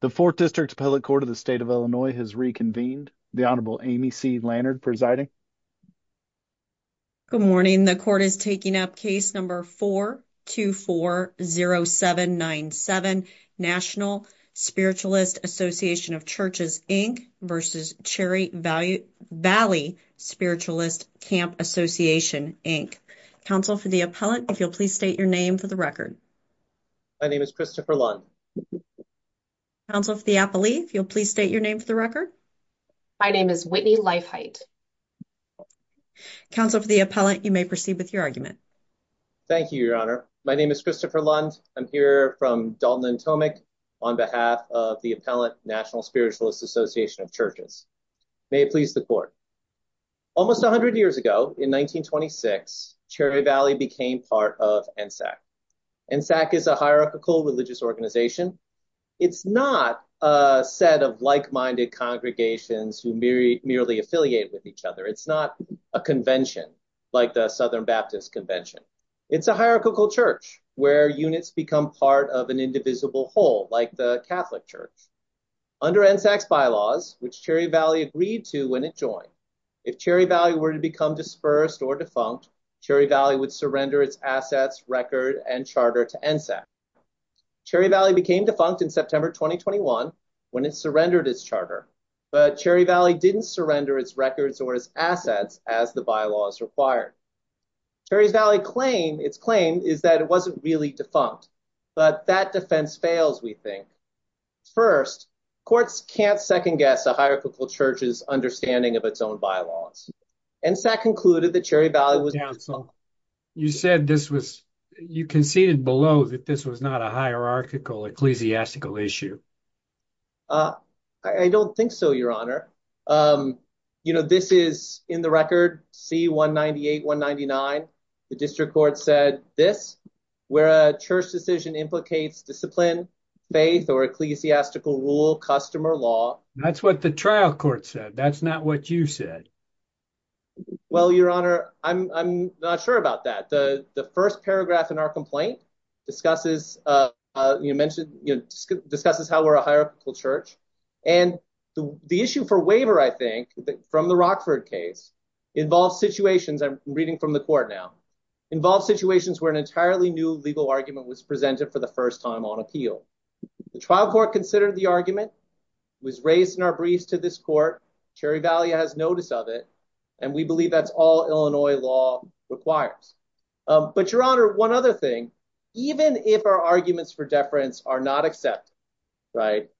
The 4th District Appellate Court of the State of Illinois has reconvened. The Honorable Amy C. Lannard presiding. Good morning. The Court is taking up Case No. 4240797, National Spiritualist Association of Churches, Inc. v. Cherry Valley Spiritualist Camp Association, Inc. Counsel for the appellant, if you'll please state your name for the record. My name is Christopher Lund. Counsel for the appellee, if you'll please state your name for the record. My name is Whitney Leifheit. Counsel for the appellant, you may proceed with your argument. Thank you, Your Honor. My name is Christopher Lund. I'm here from Dalton & Tomick on behalf of the appellant, National Spiritualist Association of Churches. May it please the Court. Almost 100 years ago, in 1926, Cherry Valley became part of NSAC. NSAC is a hierarchical religious organization. It's not a set of like-minded congregations who merely affiliate with each other. It's not a convention like the Southern Baptist Convention. It's a hierarchical church where units become part of an indivisible whole, like the Catholic Church. Under NSAC's bylaws, which Cherry Valley agreed to when it joined, if Cherry Valley were to become dispersed or defunct, Cherry Valley would surrender its assets, record, and charter to NSAC. Cherry Valley became defunct in September 2021 when it surrendered its charter, but Cherry Valley didn't surrender its records or its assets as the bylaws required. Cherry Valley's claim is that it wasn't really defunct, but that defense fails, we think. First, courts can't second-guess a hierarchical church's understanding of its own bylaws. NSAC concluded that Cherry Valley was defunct. You said this was, you conceded below that this was not a hierarchical ecclesiastical issue. I don't think so, Your Honor. You know, this is in the record, C-198-199. The district court said this, where a church decision implicates discipline, faith, or ecclesiastical rule, customer law. That's what the trial court said. That's not what you said. Well, Your Honor, I'm not sure about that. The first paragraph in our complaint discusses how we're a hierarchical church, and the issue for waiver, I think, from the Rockford case involves situations, I'm reading from the court now, involves situations where an entirely new legal argument was presented for the first time on appeal. The trial court considered the argument, was raised in our briefs to this court, Cherry Valley has notice of it, and we believe that's all Illinois law requires. But, Your Honor, one other thing, even if our arguments for deference are not accepted, right,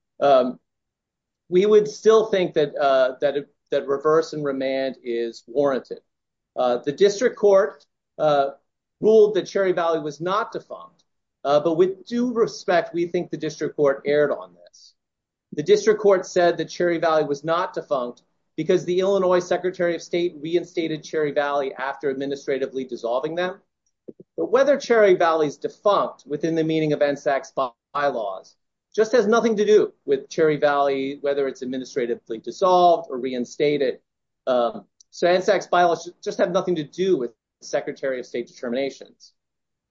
we would still think that reverse and remand is warranted. The district court ruled that Cherry Valley was not defunct, but with due respect, we think the district court erred on this. The district court said that Cherry Valley was not defunct because the Illinois Secretary of State reinstated Cherry Valley after administratively dissolving them. But whether Cherry Valley's defunct within the meaning of NSAC's bylaws just has nothing to do with Cherry Valley, whether it's administratively dissolved or reinstated. So NSAC's bylaws just have nothing to do with the Secretary of State determinations.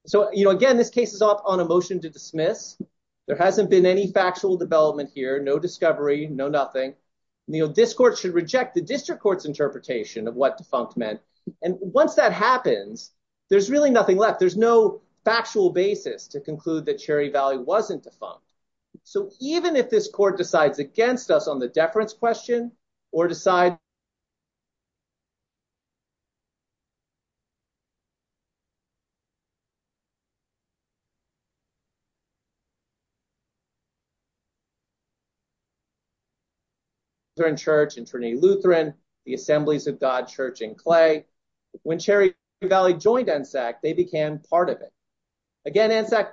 So, you know, again, this case is up on a motion to dismiss. There hasn't been any factual development here, no discovery, no nothing. This court should reject the district court's interpretation of what defunct meant. And once that happens, there's really nothing left. There's no factual basis to conclude that Cherry Valley wasn't defunct. So even if this court decides against us on the deference question or decide Lutheran Church in Trinity Lutheran, the Assemblies of God Church in Clay, when Cherry Valley joined NSAC, they became part of it. Again, NSAC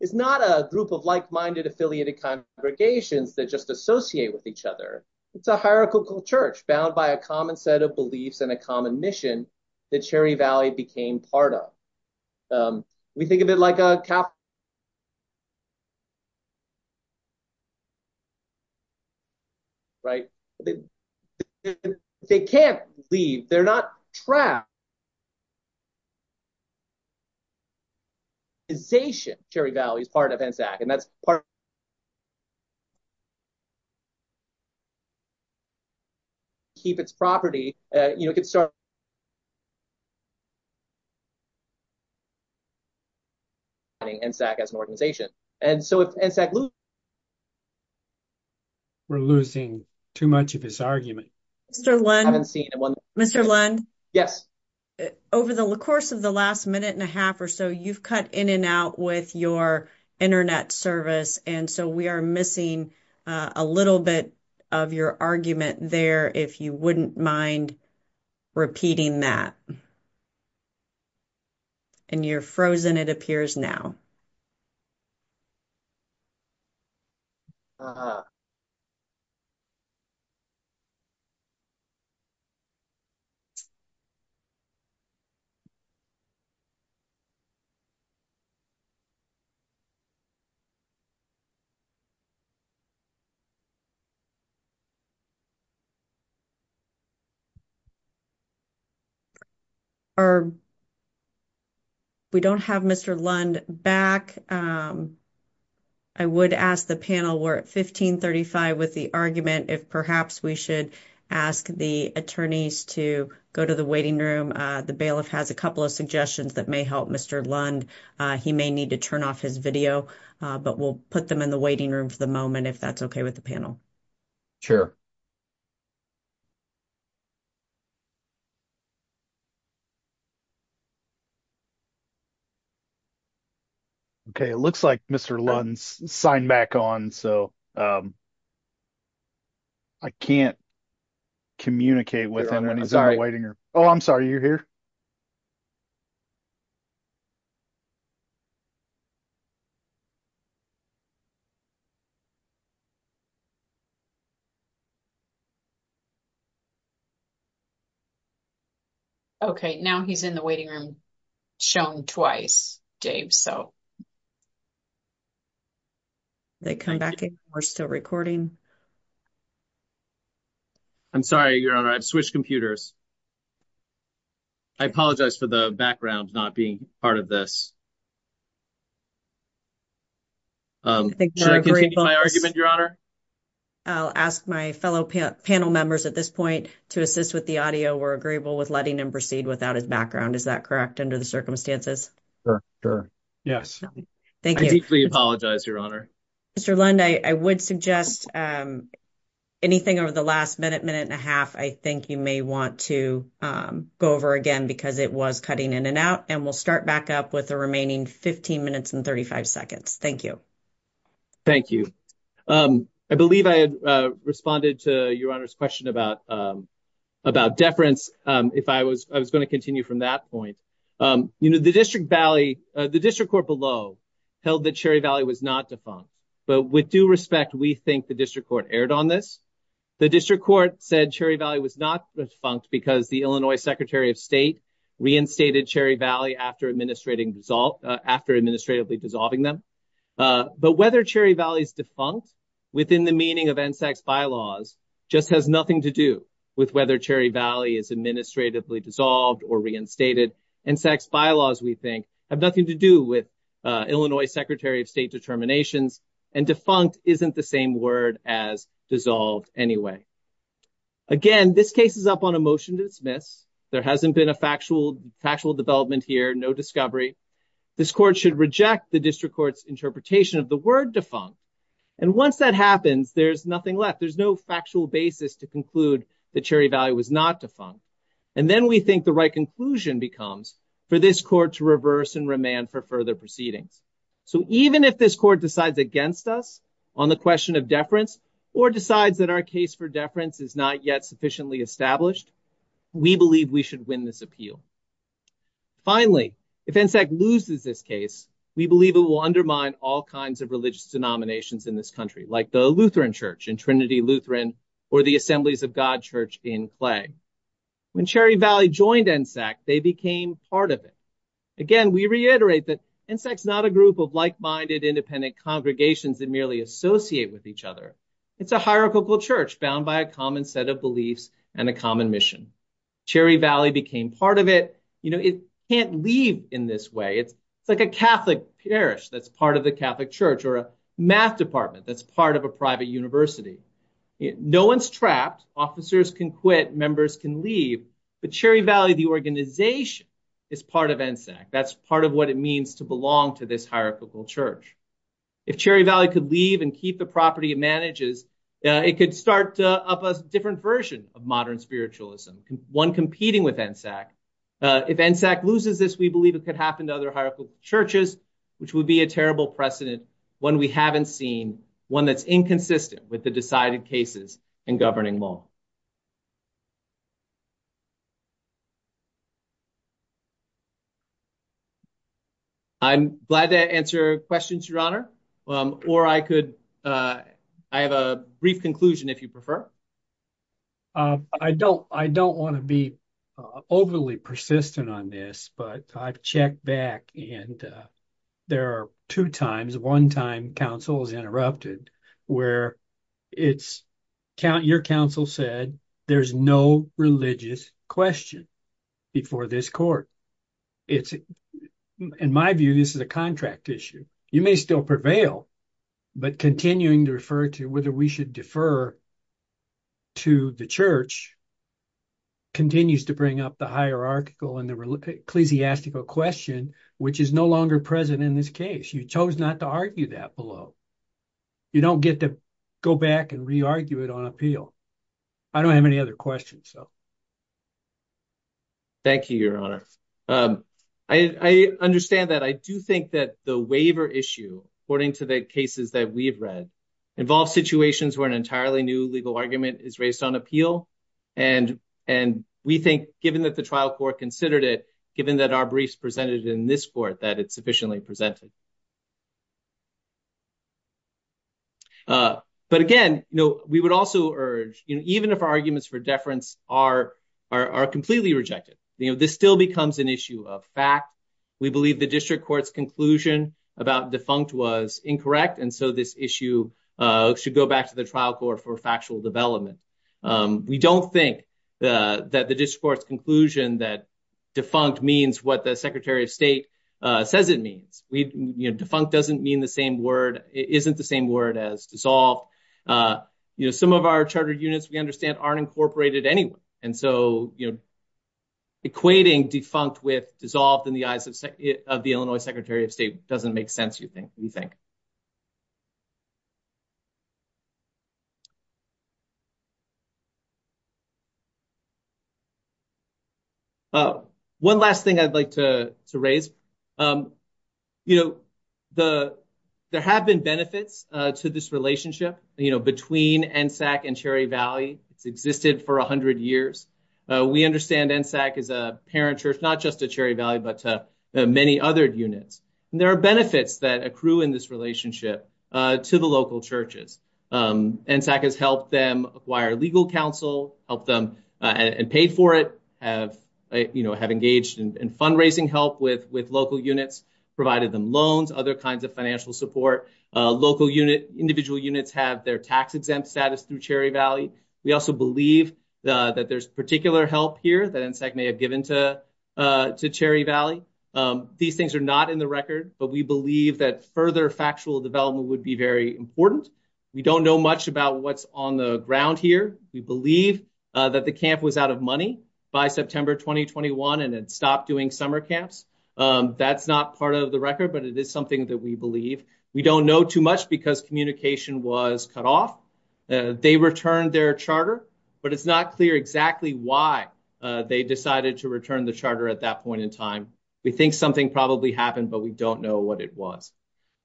is not a group of like-minded, affiliated congregations that just associate with each other. It's a hierarchical church bound by a common set of beliefs and a common mission that Cherry Valley became part of. We think of it like a Catholic church, right? They can't leave. They're not trapped. And so if NSAC loses, we're losing too much of this argument. Mr. Lund, over the course of the last minute and a half or so, you've cut in and out with your internet service. And so we are missing a little bit of your argument there, if you wouldn't mind repeating that. And you're frozen, it appears now. Thank you. We don't have Mr. Lund back. I would ask the panel, we're at 1535 with the argument, if perhaps we should ask the attorneys to go to the waiting room. The bailiff has a couple of suggestions that may help Mr. Lund. He may need to turn off his video, but we'll put them in the waiting room for the moment, if that's okay with the panel. Sure. Okay, it looks like Mr. Lund's signed back on, so I can't communicate with him. Oh, I'm sorry, are you here? Okay, now he's in the waiting room, shown twice, Dave, so. They come back in, we're still recording. I'm sorry, Your Honor, I've switched computers. I apologize for the background not being part of this. Should I continue my argument, Your Honor? I'll ask my fellow panel members at this point to assist with the audio. We're agreeable with letting him proceed without his background, is that correct, under the circumstances? Sure, sure, yes. Thank you. I deeply apologize, Your Honor. Mr. Lund, I would suggest anything over the last minute, minute and a half, I think you may want to go over again, because it was cutting in and out, and we'll start back up with the remaining 15 minutes and 35 seconds. Thank you. Thank you. I believe I had responded to Your Honor's question about deference, if I was going to continue from that point. The District Court below held that Cherry Valley was not defunct, but with due respect, we think the District Court erred on this. The District Court said Cherry Valley was not defunct because the Illinois Secretary of State reinstated Cherry Valley after administratively dissolving them. But whether Cherry Valley is defunct within the meaning of NSAC's bylaws just has nothing to do with whether Cherry Valley is administratively dissolved or reinstated. NSAC's bylaws, we think, have nothing to do with Illinois Secretary of State determinations, and defunct isn't the same word as dissolved anyway. Again, this case is up on a motion to dismiss. There hasn't been a factual development here, no discovery. This court should reject the District Court's interpretation of the word defunct. And once that happens, there's nothing left. There's no factual basis to conclude that Cherry Valley was not defunct. And then we think the right conclusion becomes for this court to reverse and remand for further proceedings. So even if this court decides against us on the question of deference or decides that our case for deference is not yet sufficiently established, we believe we should win this appeal. Finally, if NSAC loses this case, we believe it will undermine all kinds of religious denominations in this country, like the Lutheran Church in Trinity Lutheran or the Assemblies of God Church in Clay. When Cherry Valley joined NSAC, they became part of it. Again, we reiterate that NSAC's not a group of like-minded, independent congregations that merely associate with each other. It's a hierarchical church bound by a common set of beliefs and a common mission. Cherry Valley became part of it. You know, it can't leave in this way. It's like a Catholic parish that's part of the Catholic Church or a math department that's part of a private university. No one's trapped. Officers can quit. Members can leave. But Cherry Valley, the organization, is part of NSAC. That's part of what it means to belong to this hierarchical church. If Cherry Valley could leave and keep the property it manages, it could start up a different version of modern spiritualism, one competing with NSAC. If NSAC loses this, we believe it could happen to other hierarchical churches, which would be a terrible precedent, one we haven't seen, one that's inconsistent with the decided cases in governing law. I'm glad to answer questions, Your Honor, or I could, I have a brief conclusion if you prefer. I don't want to be overly persistent on this, but I've checked back, and there are two times, one time counsel is interrupted, where your counsel said there's no religious question before this court. In my view, this is a contract issue. You may still prevail, but continuing to refer to whether we should defer to the church continues to bring up the hierarchical and the ecclesiastical question, which is no longer present in this case. You chose not to argue that below. You don't get to go back and re-argue it on appeal. I don't have any other questions. Thank you, Your Honor. I understand that. I do think that the waiver issue, according to the cases that we've read, involves situations where an entirely new legal argument is raised on appeal, and we think, given that the trial court considered it, given that our briefs presented in this court, that it's sufficiently presented. But again, we would also urge, even if our arguments for deference are completely rejected, this still becomes an issue of fact. We believe the district court's conclusion about defunct was incorrect, and so this issue should go back to the trial court for factual development. We don't think that the district court's conclusion that defunct means what the Secretary of State says it means. Defunct doesn't mean the same word, isn't the same word as dissolved. Some of our charter units, we understand, aren't incorporated anyway, and so equating defunct with dissolved in the eyes of the Illinois Secretary of State doesn't make sense, we think. One last thing I'd like to raise. There have been benefits to this relationship between NSAC and Cherry Valley. It's existed for 100 years. We understand NSAC is a parent church, not just to Cherry Valley, but to many other units. There are benefits that accrue in this relationship to the local churches. NSAC has helped them acquire legal counsel, helped them and paid for it, have engaged in fundraising help with local units, provided them loans, other kinds of financial support. Local units, individual units have their tax exempt status through Cherry Valley. We also believe that there's particular help here that NSAC may have given to Cherry Valley. These things are not in the record, but we believe that further factual development would be very important. We don't know much about what's on the ground here. We believe that the camp was out of money by September 2021 and had stopped doing summer camps. That's not part of the record, but it is something that we believe. We don't know too much because communication was cut off. They returned their charter, but it's not clear exactly why they decided to return the charter at that point in time. We think something probably happened, but we don't know what it was.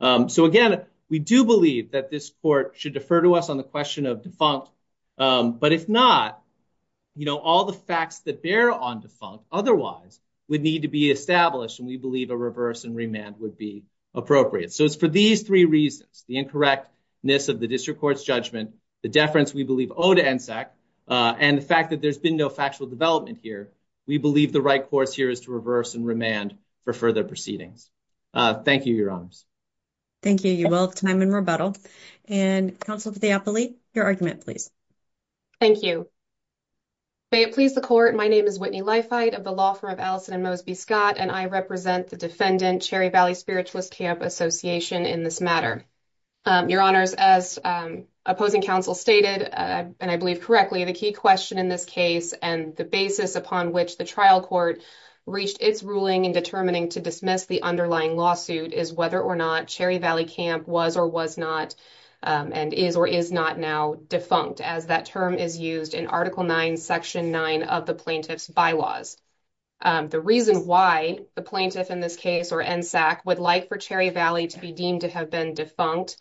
So again, we do believe that this court should defer to us on the question of defunct, but if not, you know, all the facts that bear on defunct otherwise would need to be established, and we believe a reverse and remand would be appropriate. So it's for these three reasons, the incorrectness of the district court's judgment, the deference we believe owed to NSAC, and the fact that there's been no factual development here, we believe the right course here is to reverse and remand for further proceedings. Thank you, Your Honors. Thank you, you both, time and rebuttal. And Counselor DiAppolite, your argument please. Thank you. May it please the court, my name is Whitney Leifheit of the law firm of Allison and Mosby Scott, and I represent the defendant Cherry Valley Spiritualist Camp Association in this matter. Your Honors, as opposing counsel stated, and I believe correctly, the key question in this case and the basis upon which the trial court reached its ruling in determining to dismiss the underlying lawsuit is whether or not Cherry Valley Camp was or was not and is or is not now defunct, as that term is used in Article 9, Section 9 of the Plaintiff's Bylaws. The reason why the plaintiff in this case or NSAC would like for Cherry Valley to be deemed to have been defunct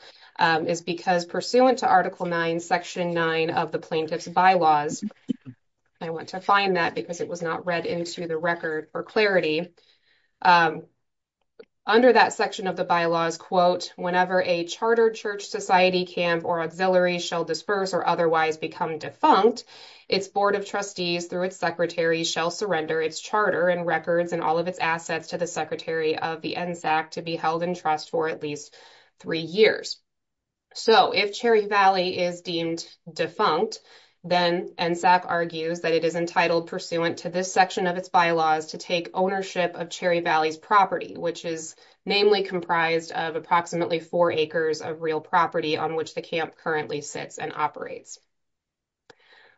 is because pursuant to Article 9, Section 9 of the Plaintiff's Bylaws, I want to find that because it was not read into the record for clarity, under that section of the bylaws, quote, whenever a charter church society camp or auxiliary shall disperse or otherwise become defunct, its board of trustees through its secretary shall surrender its charter and records and all of its assets to the secretary of the NSAC to be held in trust for at least three years. So, if Cherry Valley is deemed defunct, then NSAC argues that it is entitled pursuant to this section of its bylaws to take ownership of Cherry Valley's property, which is namely comprised of approximately four acres of real property on which the camp currently sits and operates.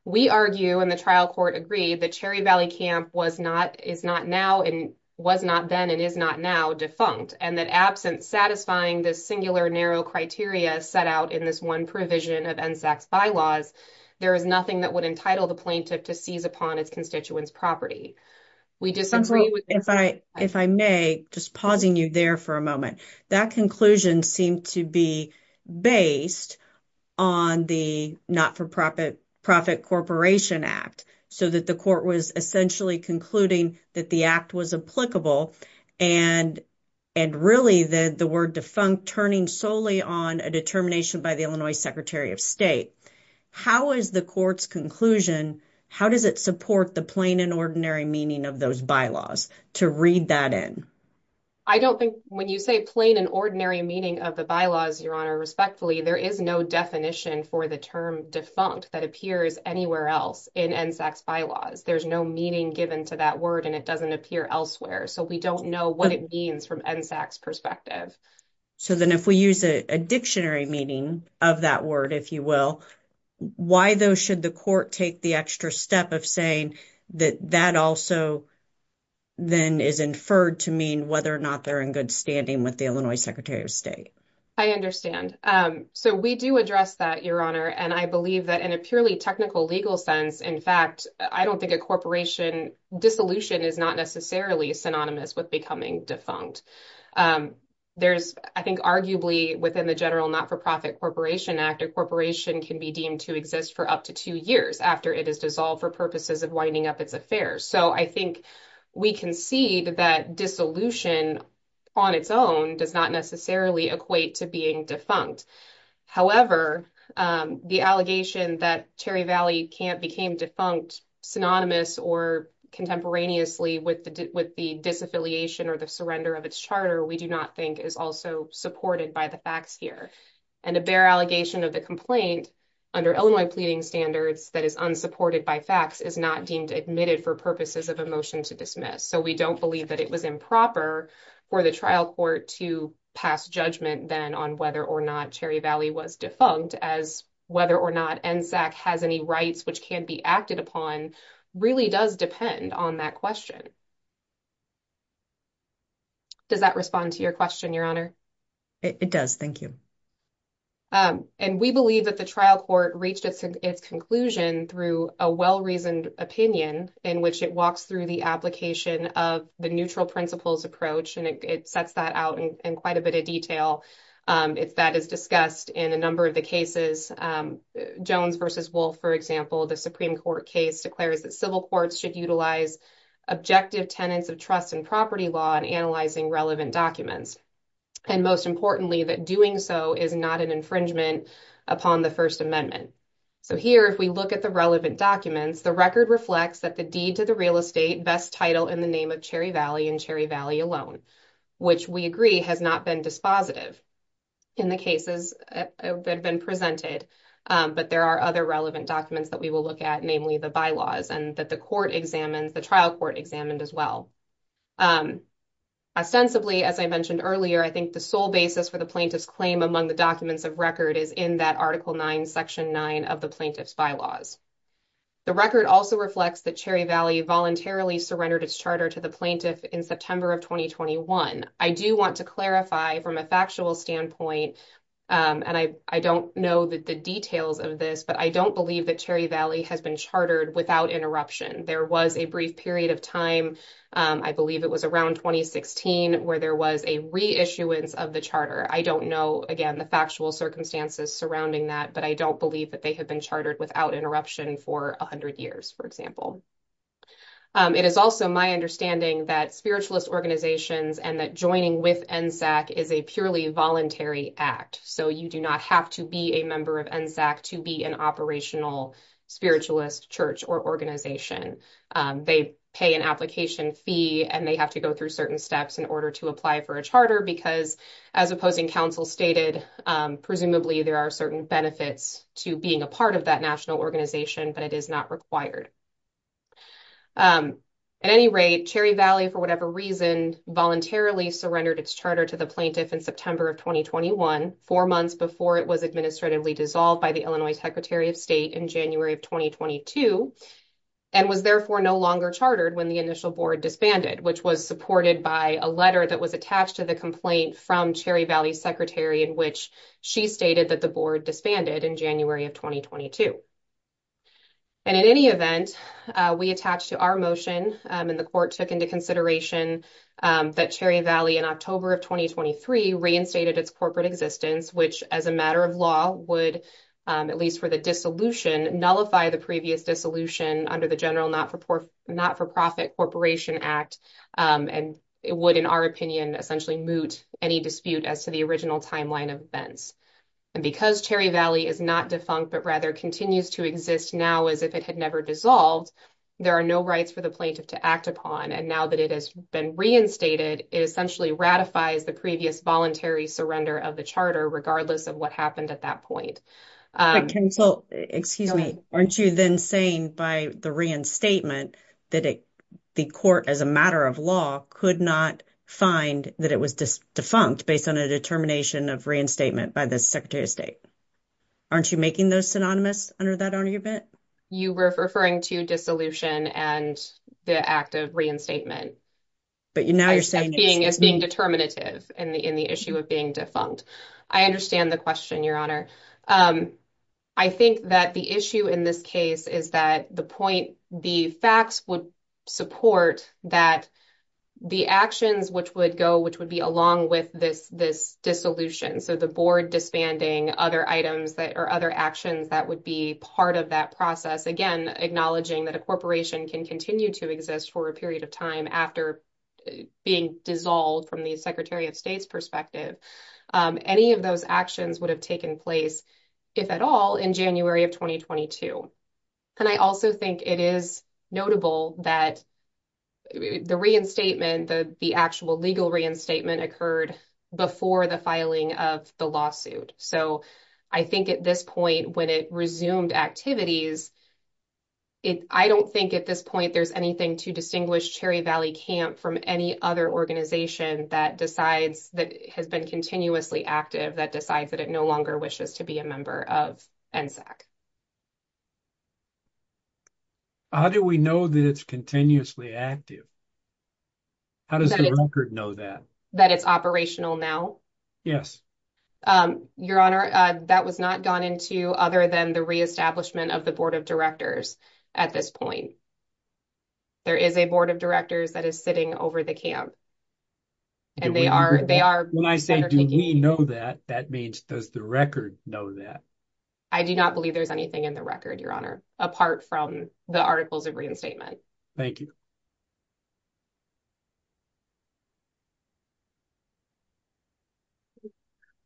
We argue, and the trial court agreed, that Cherry Valley Camp was not, is not now, and was not then, and is not now defunct, and that absent satisfying this singular narrow criteria set out in this one provision of NSAC's bylaws, there is nothing that would entitle the plaintiff to seize upon its constituents' property. We disagree with that. If I may, just pausing you there for a moment, that conclusion seemed to be based on the not-for-profit corporation act, so that the court was essentially concluding that the act was applicable and really the word defunct turning solely on a determination by the Illinois Secretary of State. How is the court's conclusion, how does it support the plain and ordinary meaning of those bylaws to read that in? I don't think, when you say plain and ordinary meaning of the bylaws, Your Honor, respectfully, there is no definition for the term defunct that appears anywhere else in NSAC's bylaws. There's no meaning given to that word and it doesn't appear elsewhere, so we don't know what it means from NSAC's perspective. So, then if we use a dictionary meaning of that word, if you will, why though should the court take the extra step of saying that that also then is inferred to mean whether or not they're in good standing with the Illinois Secretary of State? I understand. So, we do address that, Your Honor, and I believe that in a purely technical legal sense, in fact, I don't think a corporation dissolution is not necessarily synonymous with becoming defunct. There's, I think, arguably within the general not-for-profit corporation act, a corporation can be deemed to exist for up to two years after it is dissolved for purposes of winding up its affairs. So, I think we can see that dissolution on its own does not necessarily equate to being defunct. However, the allegation that Cherry Valley Camp became defunct synonymous or contemporaneously with the disaffiliation or the surrender of its charter we do not think is also supported by the facts here. And a bare allegation of the complaint under Illinois pleading standards that is unsupported by facts is not deemed admitted for purposes of a motion to dismiss. So, we don't believe that it was improper for the trial court to pass judgment then on whether or not Cherry Valley was defunct as whether or not NSAC has any rights which can be acted upon really does depend on that question. Does that respond to your question, Your Honor? It does. Thank you. And we believe that the trial court reached its conclusion through a well-reasoned opinion in which it walks through the application of the neutral principles approach and it sets that out in quite a bit of detail. If that is discussed in a number of the cases, Jones v. Wolf, for example, the Supreme Court case declares that civil courts should utilize objective tenets of trust and property law in analyzing relevant documents. And most importantly, that doing so is not an infringement upon the First Amendment. So, here, if we look at the relevant documents, the record reflects that the deed to the real estate best title in the name of Cherry Valley and Cherry Valley alone, which we agree has not been dispositive in the cases that have been presented. But there are other relevant documents that we will look at, namely the bylaws and that the court examines, the trial court examined as well. Ostensibly, as I mentioned earlier, I think the sole basis for the plaintiff's claim among the documents of record is in that Article 9, Section 9 of the plaintiff's bylaws. The record also reflects that Cherry Valley voluntarily surrendered its charter to the plaintiff in September of 2021. I do want to clarify from a factual standpoint, and I don't know the details of this, but I don't believe that Cherry Valley has been chartered without interruption. There was a brief period of time, I believe it was around 2016, where there was a reissuance of the charter. I don't know, again, the factual circumstances surrounding that, but I don't believe that they have been chartered without interruption for 100 years, for example. It is also my understanding that spiritualist organizations and that joining with NSAC is a purely voluntary act. So you do not have to be a member of NSAC to be an operational spiritualist church or organization. They pay an application fee and they have to go through certain steps in order to apply for a charter because, as opposing counsel stated, presumably there are certain benefits to being a part of that national organization, but it is not required. At any rate, Cherry Valley, for whatever reason, voluntarily surrendered its charter to the plaintiff in September of 2021, four months before it was administratively dissolved by the Illinois Secretary of State in January of 2022, and was therefore no longer chartered when the initial board disbanded, which was supported by a letter that was attached to the complaint from Cherry Valley, which stated that the board disbanded in January of 2022. And in any event, we attach to our motion and the court took into consideration that Cherry Valley, in October of 2023, reinstated its corporate existence, which as a matter of law would, at least for the dissolution, nullify the previous dissolution under the General Not-for-Profit Corporation Act, and it would, in our opinion, essentially moot any dispute as to the original timeline of events. And because Cherry Valley is not defunct, but rather continues to exist now as if it had never dissolved, there are no rights for the plaintiff to act upon, and now that it has been reinstated, it essentially ratifies the previous voluntary surrender of the charter, regardless of what happened at that point. Excuse me, aren't you then saying by the reinstatement that the court, as a matter of law, could not find that it was defunct based on a determination of reinstatement by the Secretary of State? Aren't you making those synonymous under that argument? You were referring to dissolution and the act of reinstatement. But now you're saying... As being determinative in the issue of being defunct. I understand the question, Your Honor. I think that the issue in this case is that the facts would support that the actions which would go, which would be along with this dissolution, so the board disbanding other actions that would be part of that process, again, acknowledging that a corporation can continue to exist for a period of time after being dissolved from the Secretary of State's perspective. Any of those actions would have it is notable that the reinstatement, the actual legal reinstatement occurred before the filing of the lawsuit. So I think at this point, when it resumed activities, I don't think at this point there's anything to distinguish Cherry Valley Camp from any other organization that decides, that has been continuously active, that decides that it longer wishes to be a member of NSAC. How do we know that it's continuously active? How does the record know that? That it's operational now? Yes. Your Honor, that was not gone into other than the reestablishment of the Board of Directors at this point. There is a Board of Directors that is sitting over the camp. And they are. When I say do we know that, that means does the record know that? I do not believe there's anything in the record, Your Honor, apart from the articles of reinstatement. Thank you.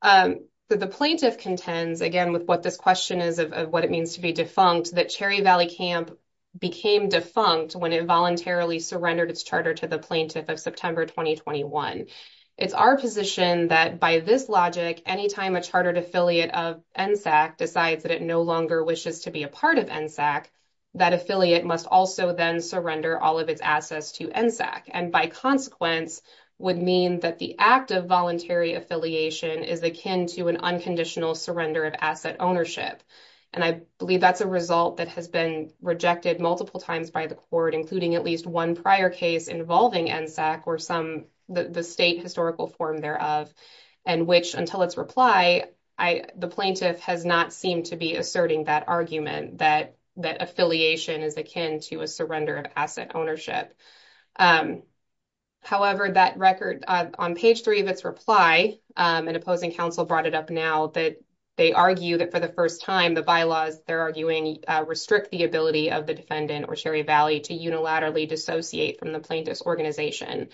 The plaintiff contends, again, with what this question is of what it means to be defunct, that Cherry Valley Camp became defunct when it voluntarily surrendered its charter to the Board of Directors after 2021. It's our position that by this logic, anytime a chartered affiliate of NSAC decides that it no longer wishes to be a part of NSAC, that affiliate must also then surrender all of its assets to NSAC. And by consequence, would mean that the act of voluntary affiliation is akin to an unconditional surrender of asset ownership. And I believe that's a result that has been rejected multiple times by the court, including at least one prior case involving NSAC or some, the state historical form thereof, and which until its reply, the plaintiff has not seemed to be asserting that argument that affiliation is akin to a surrender of asset ownership. However, that record on page three of its reply, an opposing counsel brought it up now that they argue that for the first time, the bylaws they're arguing restrict the ability of the defendant or Valley to unilaterally dissociate from the plaintiff's organization.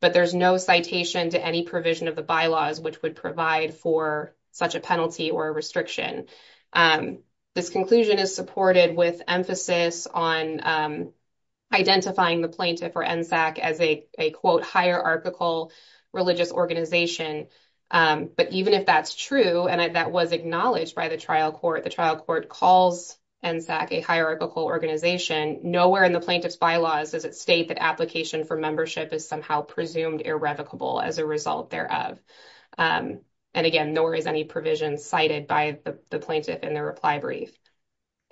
But there's no citation to any provision of the bylaws which would provide for such a penalty or a restriction. This conclusion is supported with emphasis on identifying the plaintiff or NSAC as a quote, hierarchical religious organization. But even if that's true, and that was acknowledged by the plaintiff's bylaws, does it state that application for membership is somehow presumed irrevocable as a result thereof? And again, nor is any provision cited by the plaintiff in the reply brief.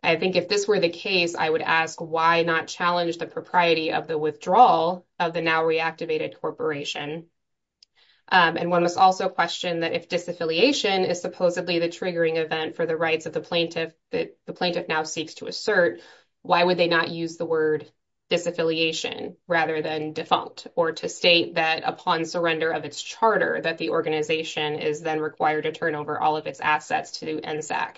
I think if this were the case, I would ask why not challenge the propriety of the withdrawal of the now reactivated corporation? And one must also question that if disaffiliation is supposedly the triggering event for the rights of the plaintiff that the plaintiff now seeks to assert, why would they not use the word disaffiliation rather than defunct or to state that upon surrender of its charter that the organization is then required to turn over all of its assets to NSAC?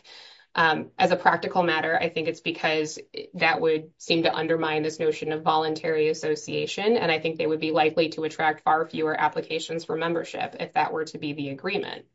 As a practical matter, I think it's because that would seem to undermine this notion of voluntary association. And I think they would be likely to attract far fewer applications for membership if that were to be the agreement.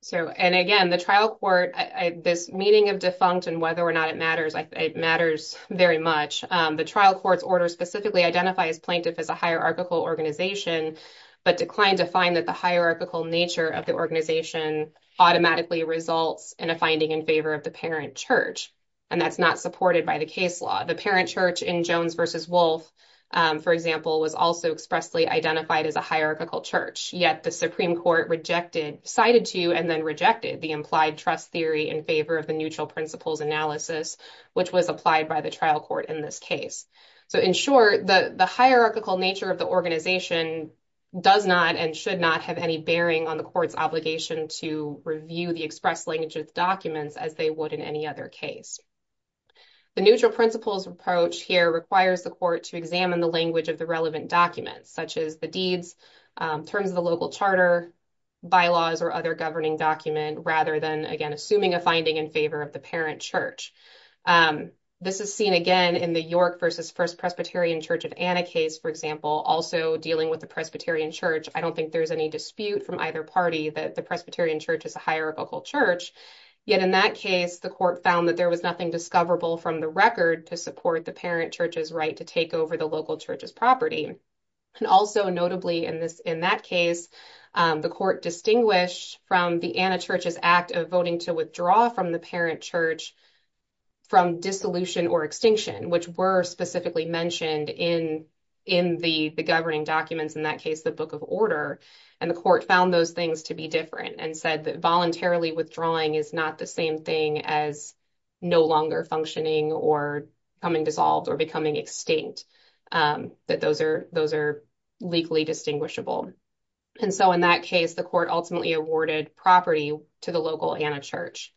So, and again, the trial court, this meeting of defunct and whether or not it matters, it matters very much. The trial court's order specifically identifies plaintiff as a hierarchical organization, but declined to find that the hierarchical nature of the organization automatically results in a finding in favor of the parent church. And that's not supported by the case law. The parent church in Jones versus Wolf, for example, was also expressly identified as a hierarchical church, yet the Supreme Court rejected, cited to, and then rejected the implied trust theory in favor of the neutral principles analysis, which was applied by the trial court in this case. So, in short, the hierarchical nature of the organization does not and should not have any bearing on the court's obligation to review the express language of documents as they would in any other case. The neutral principles approach here requires the court to examine the language of the relevant documents, such as the deeds, terms of the local charter, bylaws, or other governing document, rather than, again, assuming a finding in favor of the parent church. This is seen again in the York versus First Presbyterian Church of Anna case, for example, also dealing with the Presbyterian Church. I don't think there's any dispute from either party that the Presbyterian Church is a hierarchical church. Yet in that case, the court found that there was nothing discoverable from the record to support the parent church's right to take over the local church's property. And also notably in this, in that case, the court distinguished from the Anna Church's act of voting to withdraw from the parent church from dissolution or extinction, which were specifically mentioned in the governing documents, in that case, the Book of Order. And the court found those things to be different and said that voluntarily withdrawing is not the same thing as no longer functioning or becoming dissolved or becoming extinct, that those are legally distinguishable. And so in that case, the court ultimately awarded property to the local Anna Church.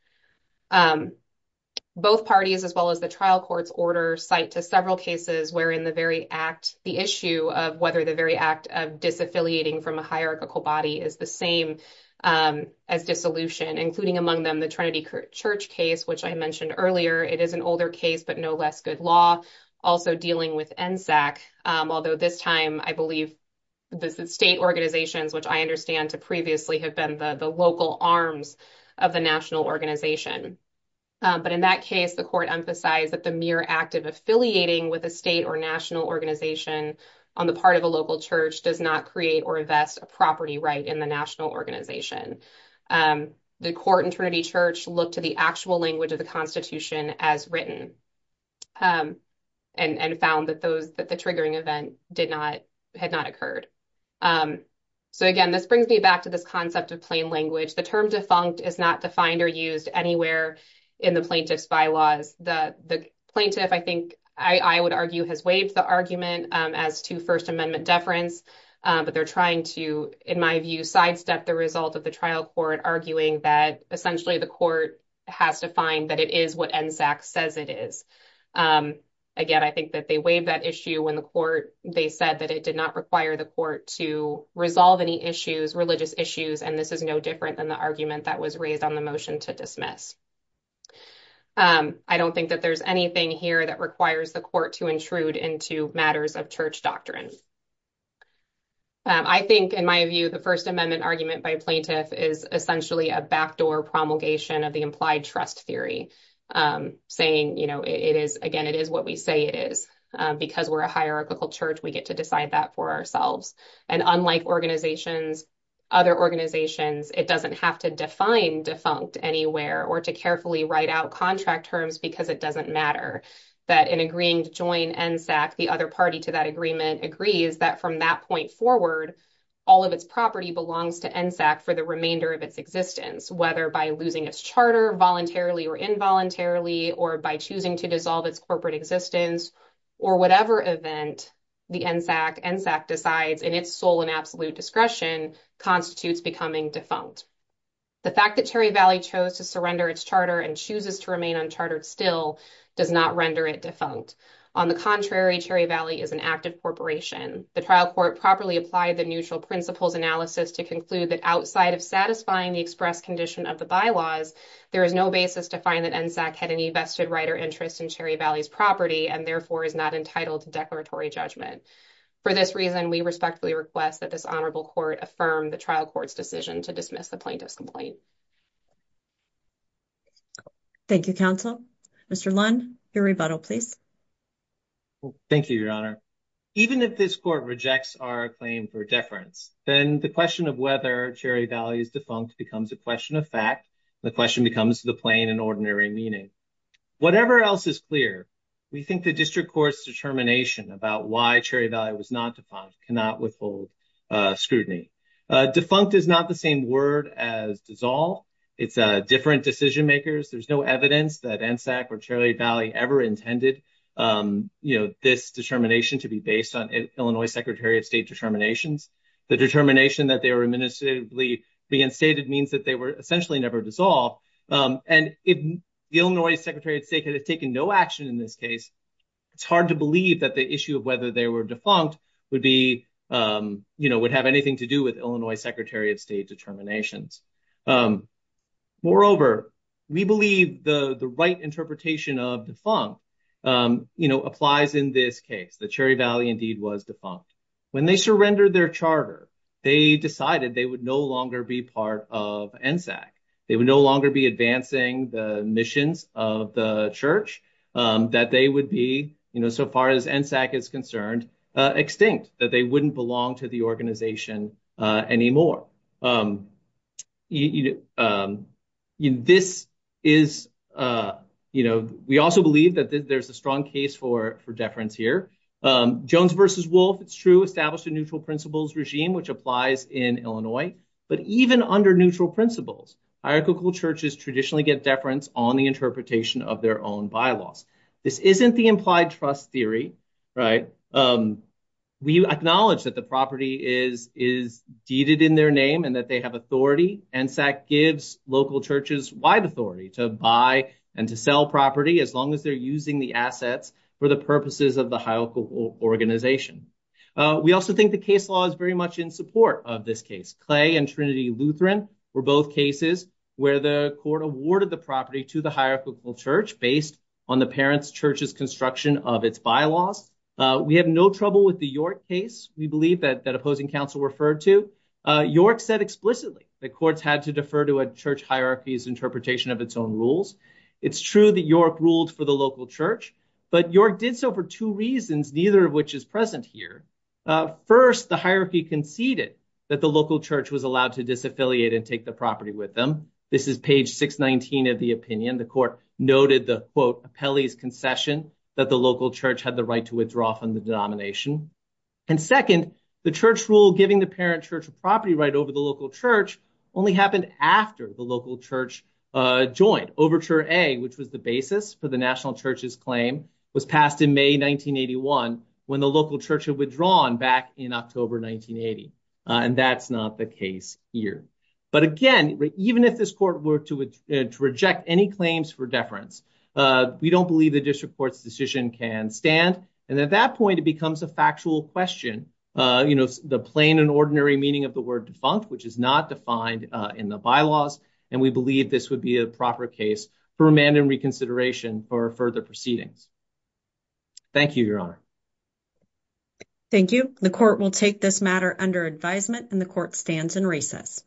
Both parties, as well as the trial court's order, cite to several cases wherein the very act, the issue of whether the very act of disaffiliating from a hierarchical body is the same as dissolution, including among them the Trinity Church case, which I mentioned earlier. It is an older case, but no less good law. Also dealing with NSAC, although this time I believe the state organizations, which I understand to previously have been the local arms of the national organization. But in that case, the court emphasized that the mere act of affiliating with a state or national organization on the part of a local church does not create or invest a property right in the court. And Trinity Church looked to the actual language of the Constitution as written and found that those, that the triggering event did not, had not occurred. So again, this brings me back to this concept of plain language. The term defunct is not defined or used anywhere in the plaintiff's bylaws. The plaintiff, I think, I would argue has waived the argument as to First Amendment deference, but they're trying to, in my view, sidestep the result of the trial court, arguing that essentially the court has to find that it is what NSAC says it is. Again, I think that they waived that issue when the court, they said that it did not require the court to resolve any issues, religious issues, and this is no different than the argument that was raised on the motion to dismiss. I don't think that there's anything here that requires the court to intrude into matters of church doctrine. I think, in my view, the First Amendment argument by plaintiff is essentially a backdoor promulgation of the implied trust theory, saying, you know, it is, again, it is what we say it is. Because we're a hierarchical church, we get to decide that for ourselves. And unlike organizations, other organizations, it doesn't have to define defunct anywhere or to carefully write out contract terms because it doesn't matter. That in agreeing to join NSAC, the other party to that agreement agrees that from that point forward, all of its property belongs to NSAC for the remainder of its existence, whether by losing its charter voluntarily or involuntarily or by choosing to dissolve its corporate existence or whatever event the NSAC decides in its sole and absolute discretion constitutes becoming defunct. The fact that Cherry Valley chose to surrender its charter and chooses to remain unchartered still does not render it defunct. On the contrary, Cherry Valley is an active corporation. The trial court properly applied the neutral principles analysis to conclude that outside of satisfying the express condition of the bylaws, there is no basis to find that NSAC had any vested right or interest in Cherry Valley's property and therefore is not entitled to declaratory judgment. For this reason, we respectfully request that this honorable court affirm the trial court's decision to dismiss the plaintiff's complaint. Thank you, counsel. Mr. Lunn, your rebuttal, please. Thank you, Your Honor. Even if this court rejects our claim for deference, then the question of whether Cherry Valley is defunct becomes a question of fact. The question becomes the plain and ordinary meaning. Whatever else is clear, we think the district court's determination about why Cherry Valley was not defunct cannot withhold scrutiny. Defunct is not the same word as dissolve. It's different decision makers. There's no evidence that NSAC or Cherry Valley ever intended this determination to be based on Illinois Secretary of State determinations. The determination that they were administratively reinstated means that they were essentially never dissolved. If the Illinois Secretary of State had taken no action in this case, it's hard to believe that the issue of whether they were defunct would have anything to do with Illinois Secretary of State determinations. Moreover, we believe the right interpretation of defunct applies in this case, that Cherry Valley indeed was defunct. When they surrendered their charter, they decided they would no longer be part of NSAC. They would no longer be advancing the missions of the church, that they would be, so far as NSAC is concerned, extinct, that they wouldn't belong to the organization anymore. We also believe that there's a strong case for deference here. Jones versus Wolf, it's true, established a neutral principles regime, which applies in Illinois. But even under neutral principles, hierarchical churches traditionally get deference on the interpretation of their own bylaws. This isn't the implied trust theory, right? We acknowledge that the property is deeded in their name and that they have authority. NSAC gives local churches wide authority to buy and to sell property as long as they're using the assets for the purposes of the hierarchical organization. We also think the case law is very much in support of this case. Clay and Trinity on the parents' church's construction of its bylaws. We have no trouble with the York case, we believe, that opposing counsel referred to. York said explicitly that courts had to defer to a church hierarchy's interpretation of its own rules. It's true that York ruled for the local church, but York did so for two reasons, neither of which is present here. First, the hierarchy conceded that the local church was allowed to disaffiliate and take the property with them. This is page 619 of the opinion. The court noted the, quote, Appellee's concession that the local church had the right to withdraw from the denomination. And second, the church rule giving the parent church a property right over the local church only happened after the local church joined. Overture A, which was the basis for the national church's claim, was passed in May 1981 when the local church had withdrawn back in October 1980. And that's not the case here. But again, even if this court were to reject any claims for deference, we don't believe the district court's decision can stand. And at that point, it becomes a factual question, you know, the plain and ordinary meaning of the word defunct, which is not defined in the bylaws, and we believe this would be a proper case for amended reconsideration for further proceedings. Thank you, Your Honor. Thank you. The court will take this matter under advisement, and the court stands in recess.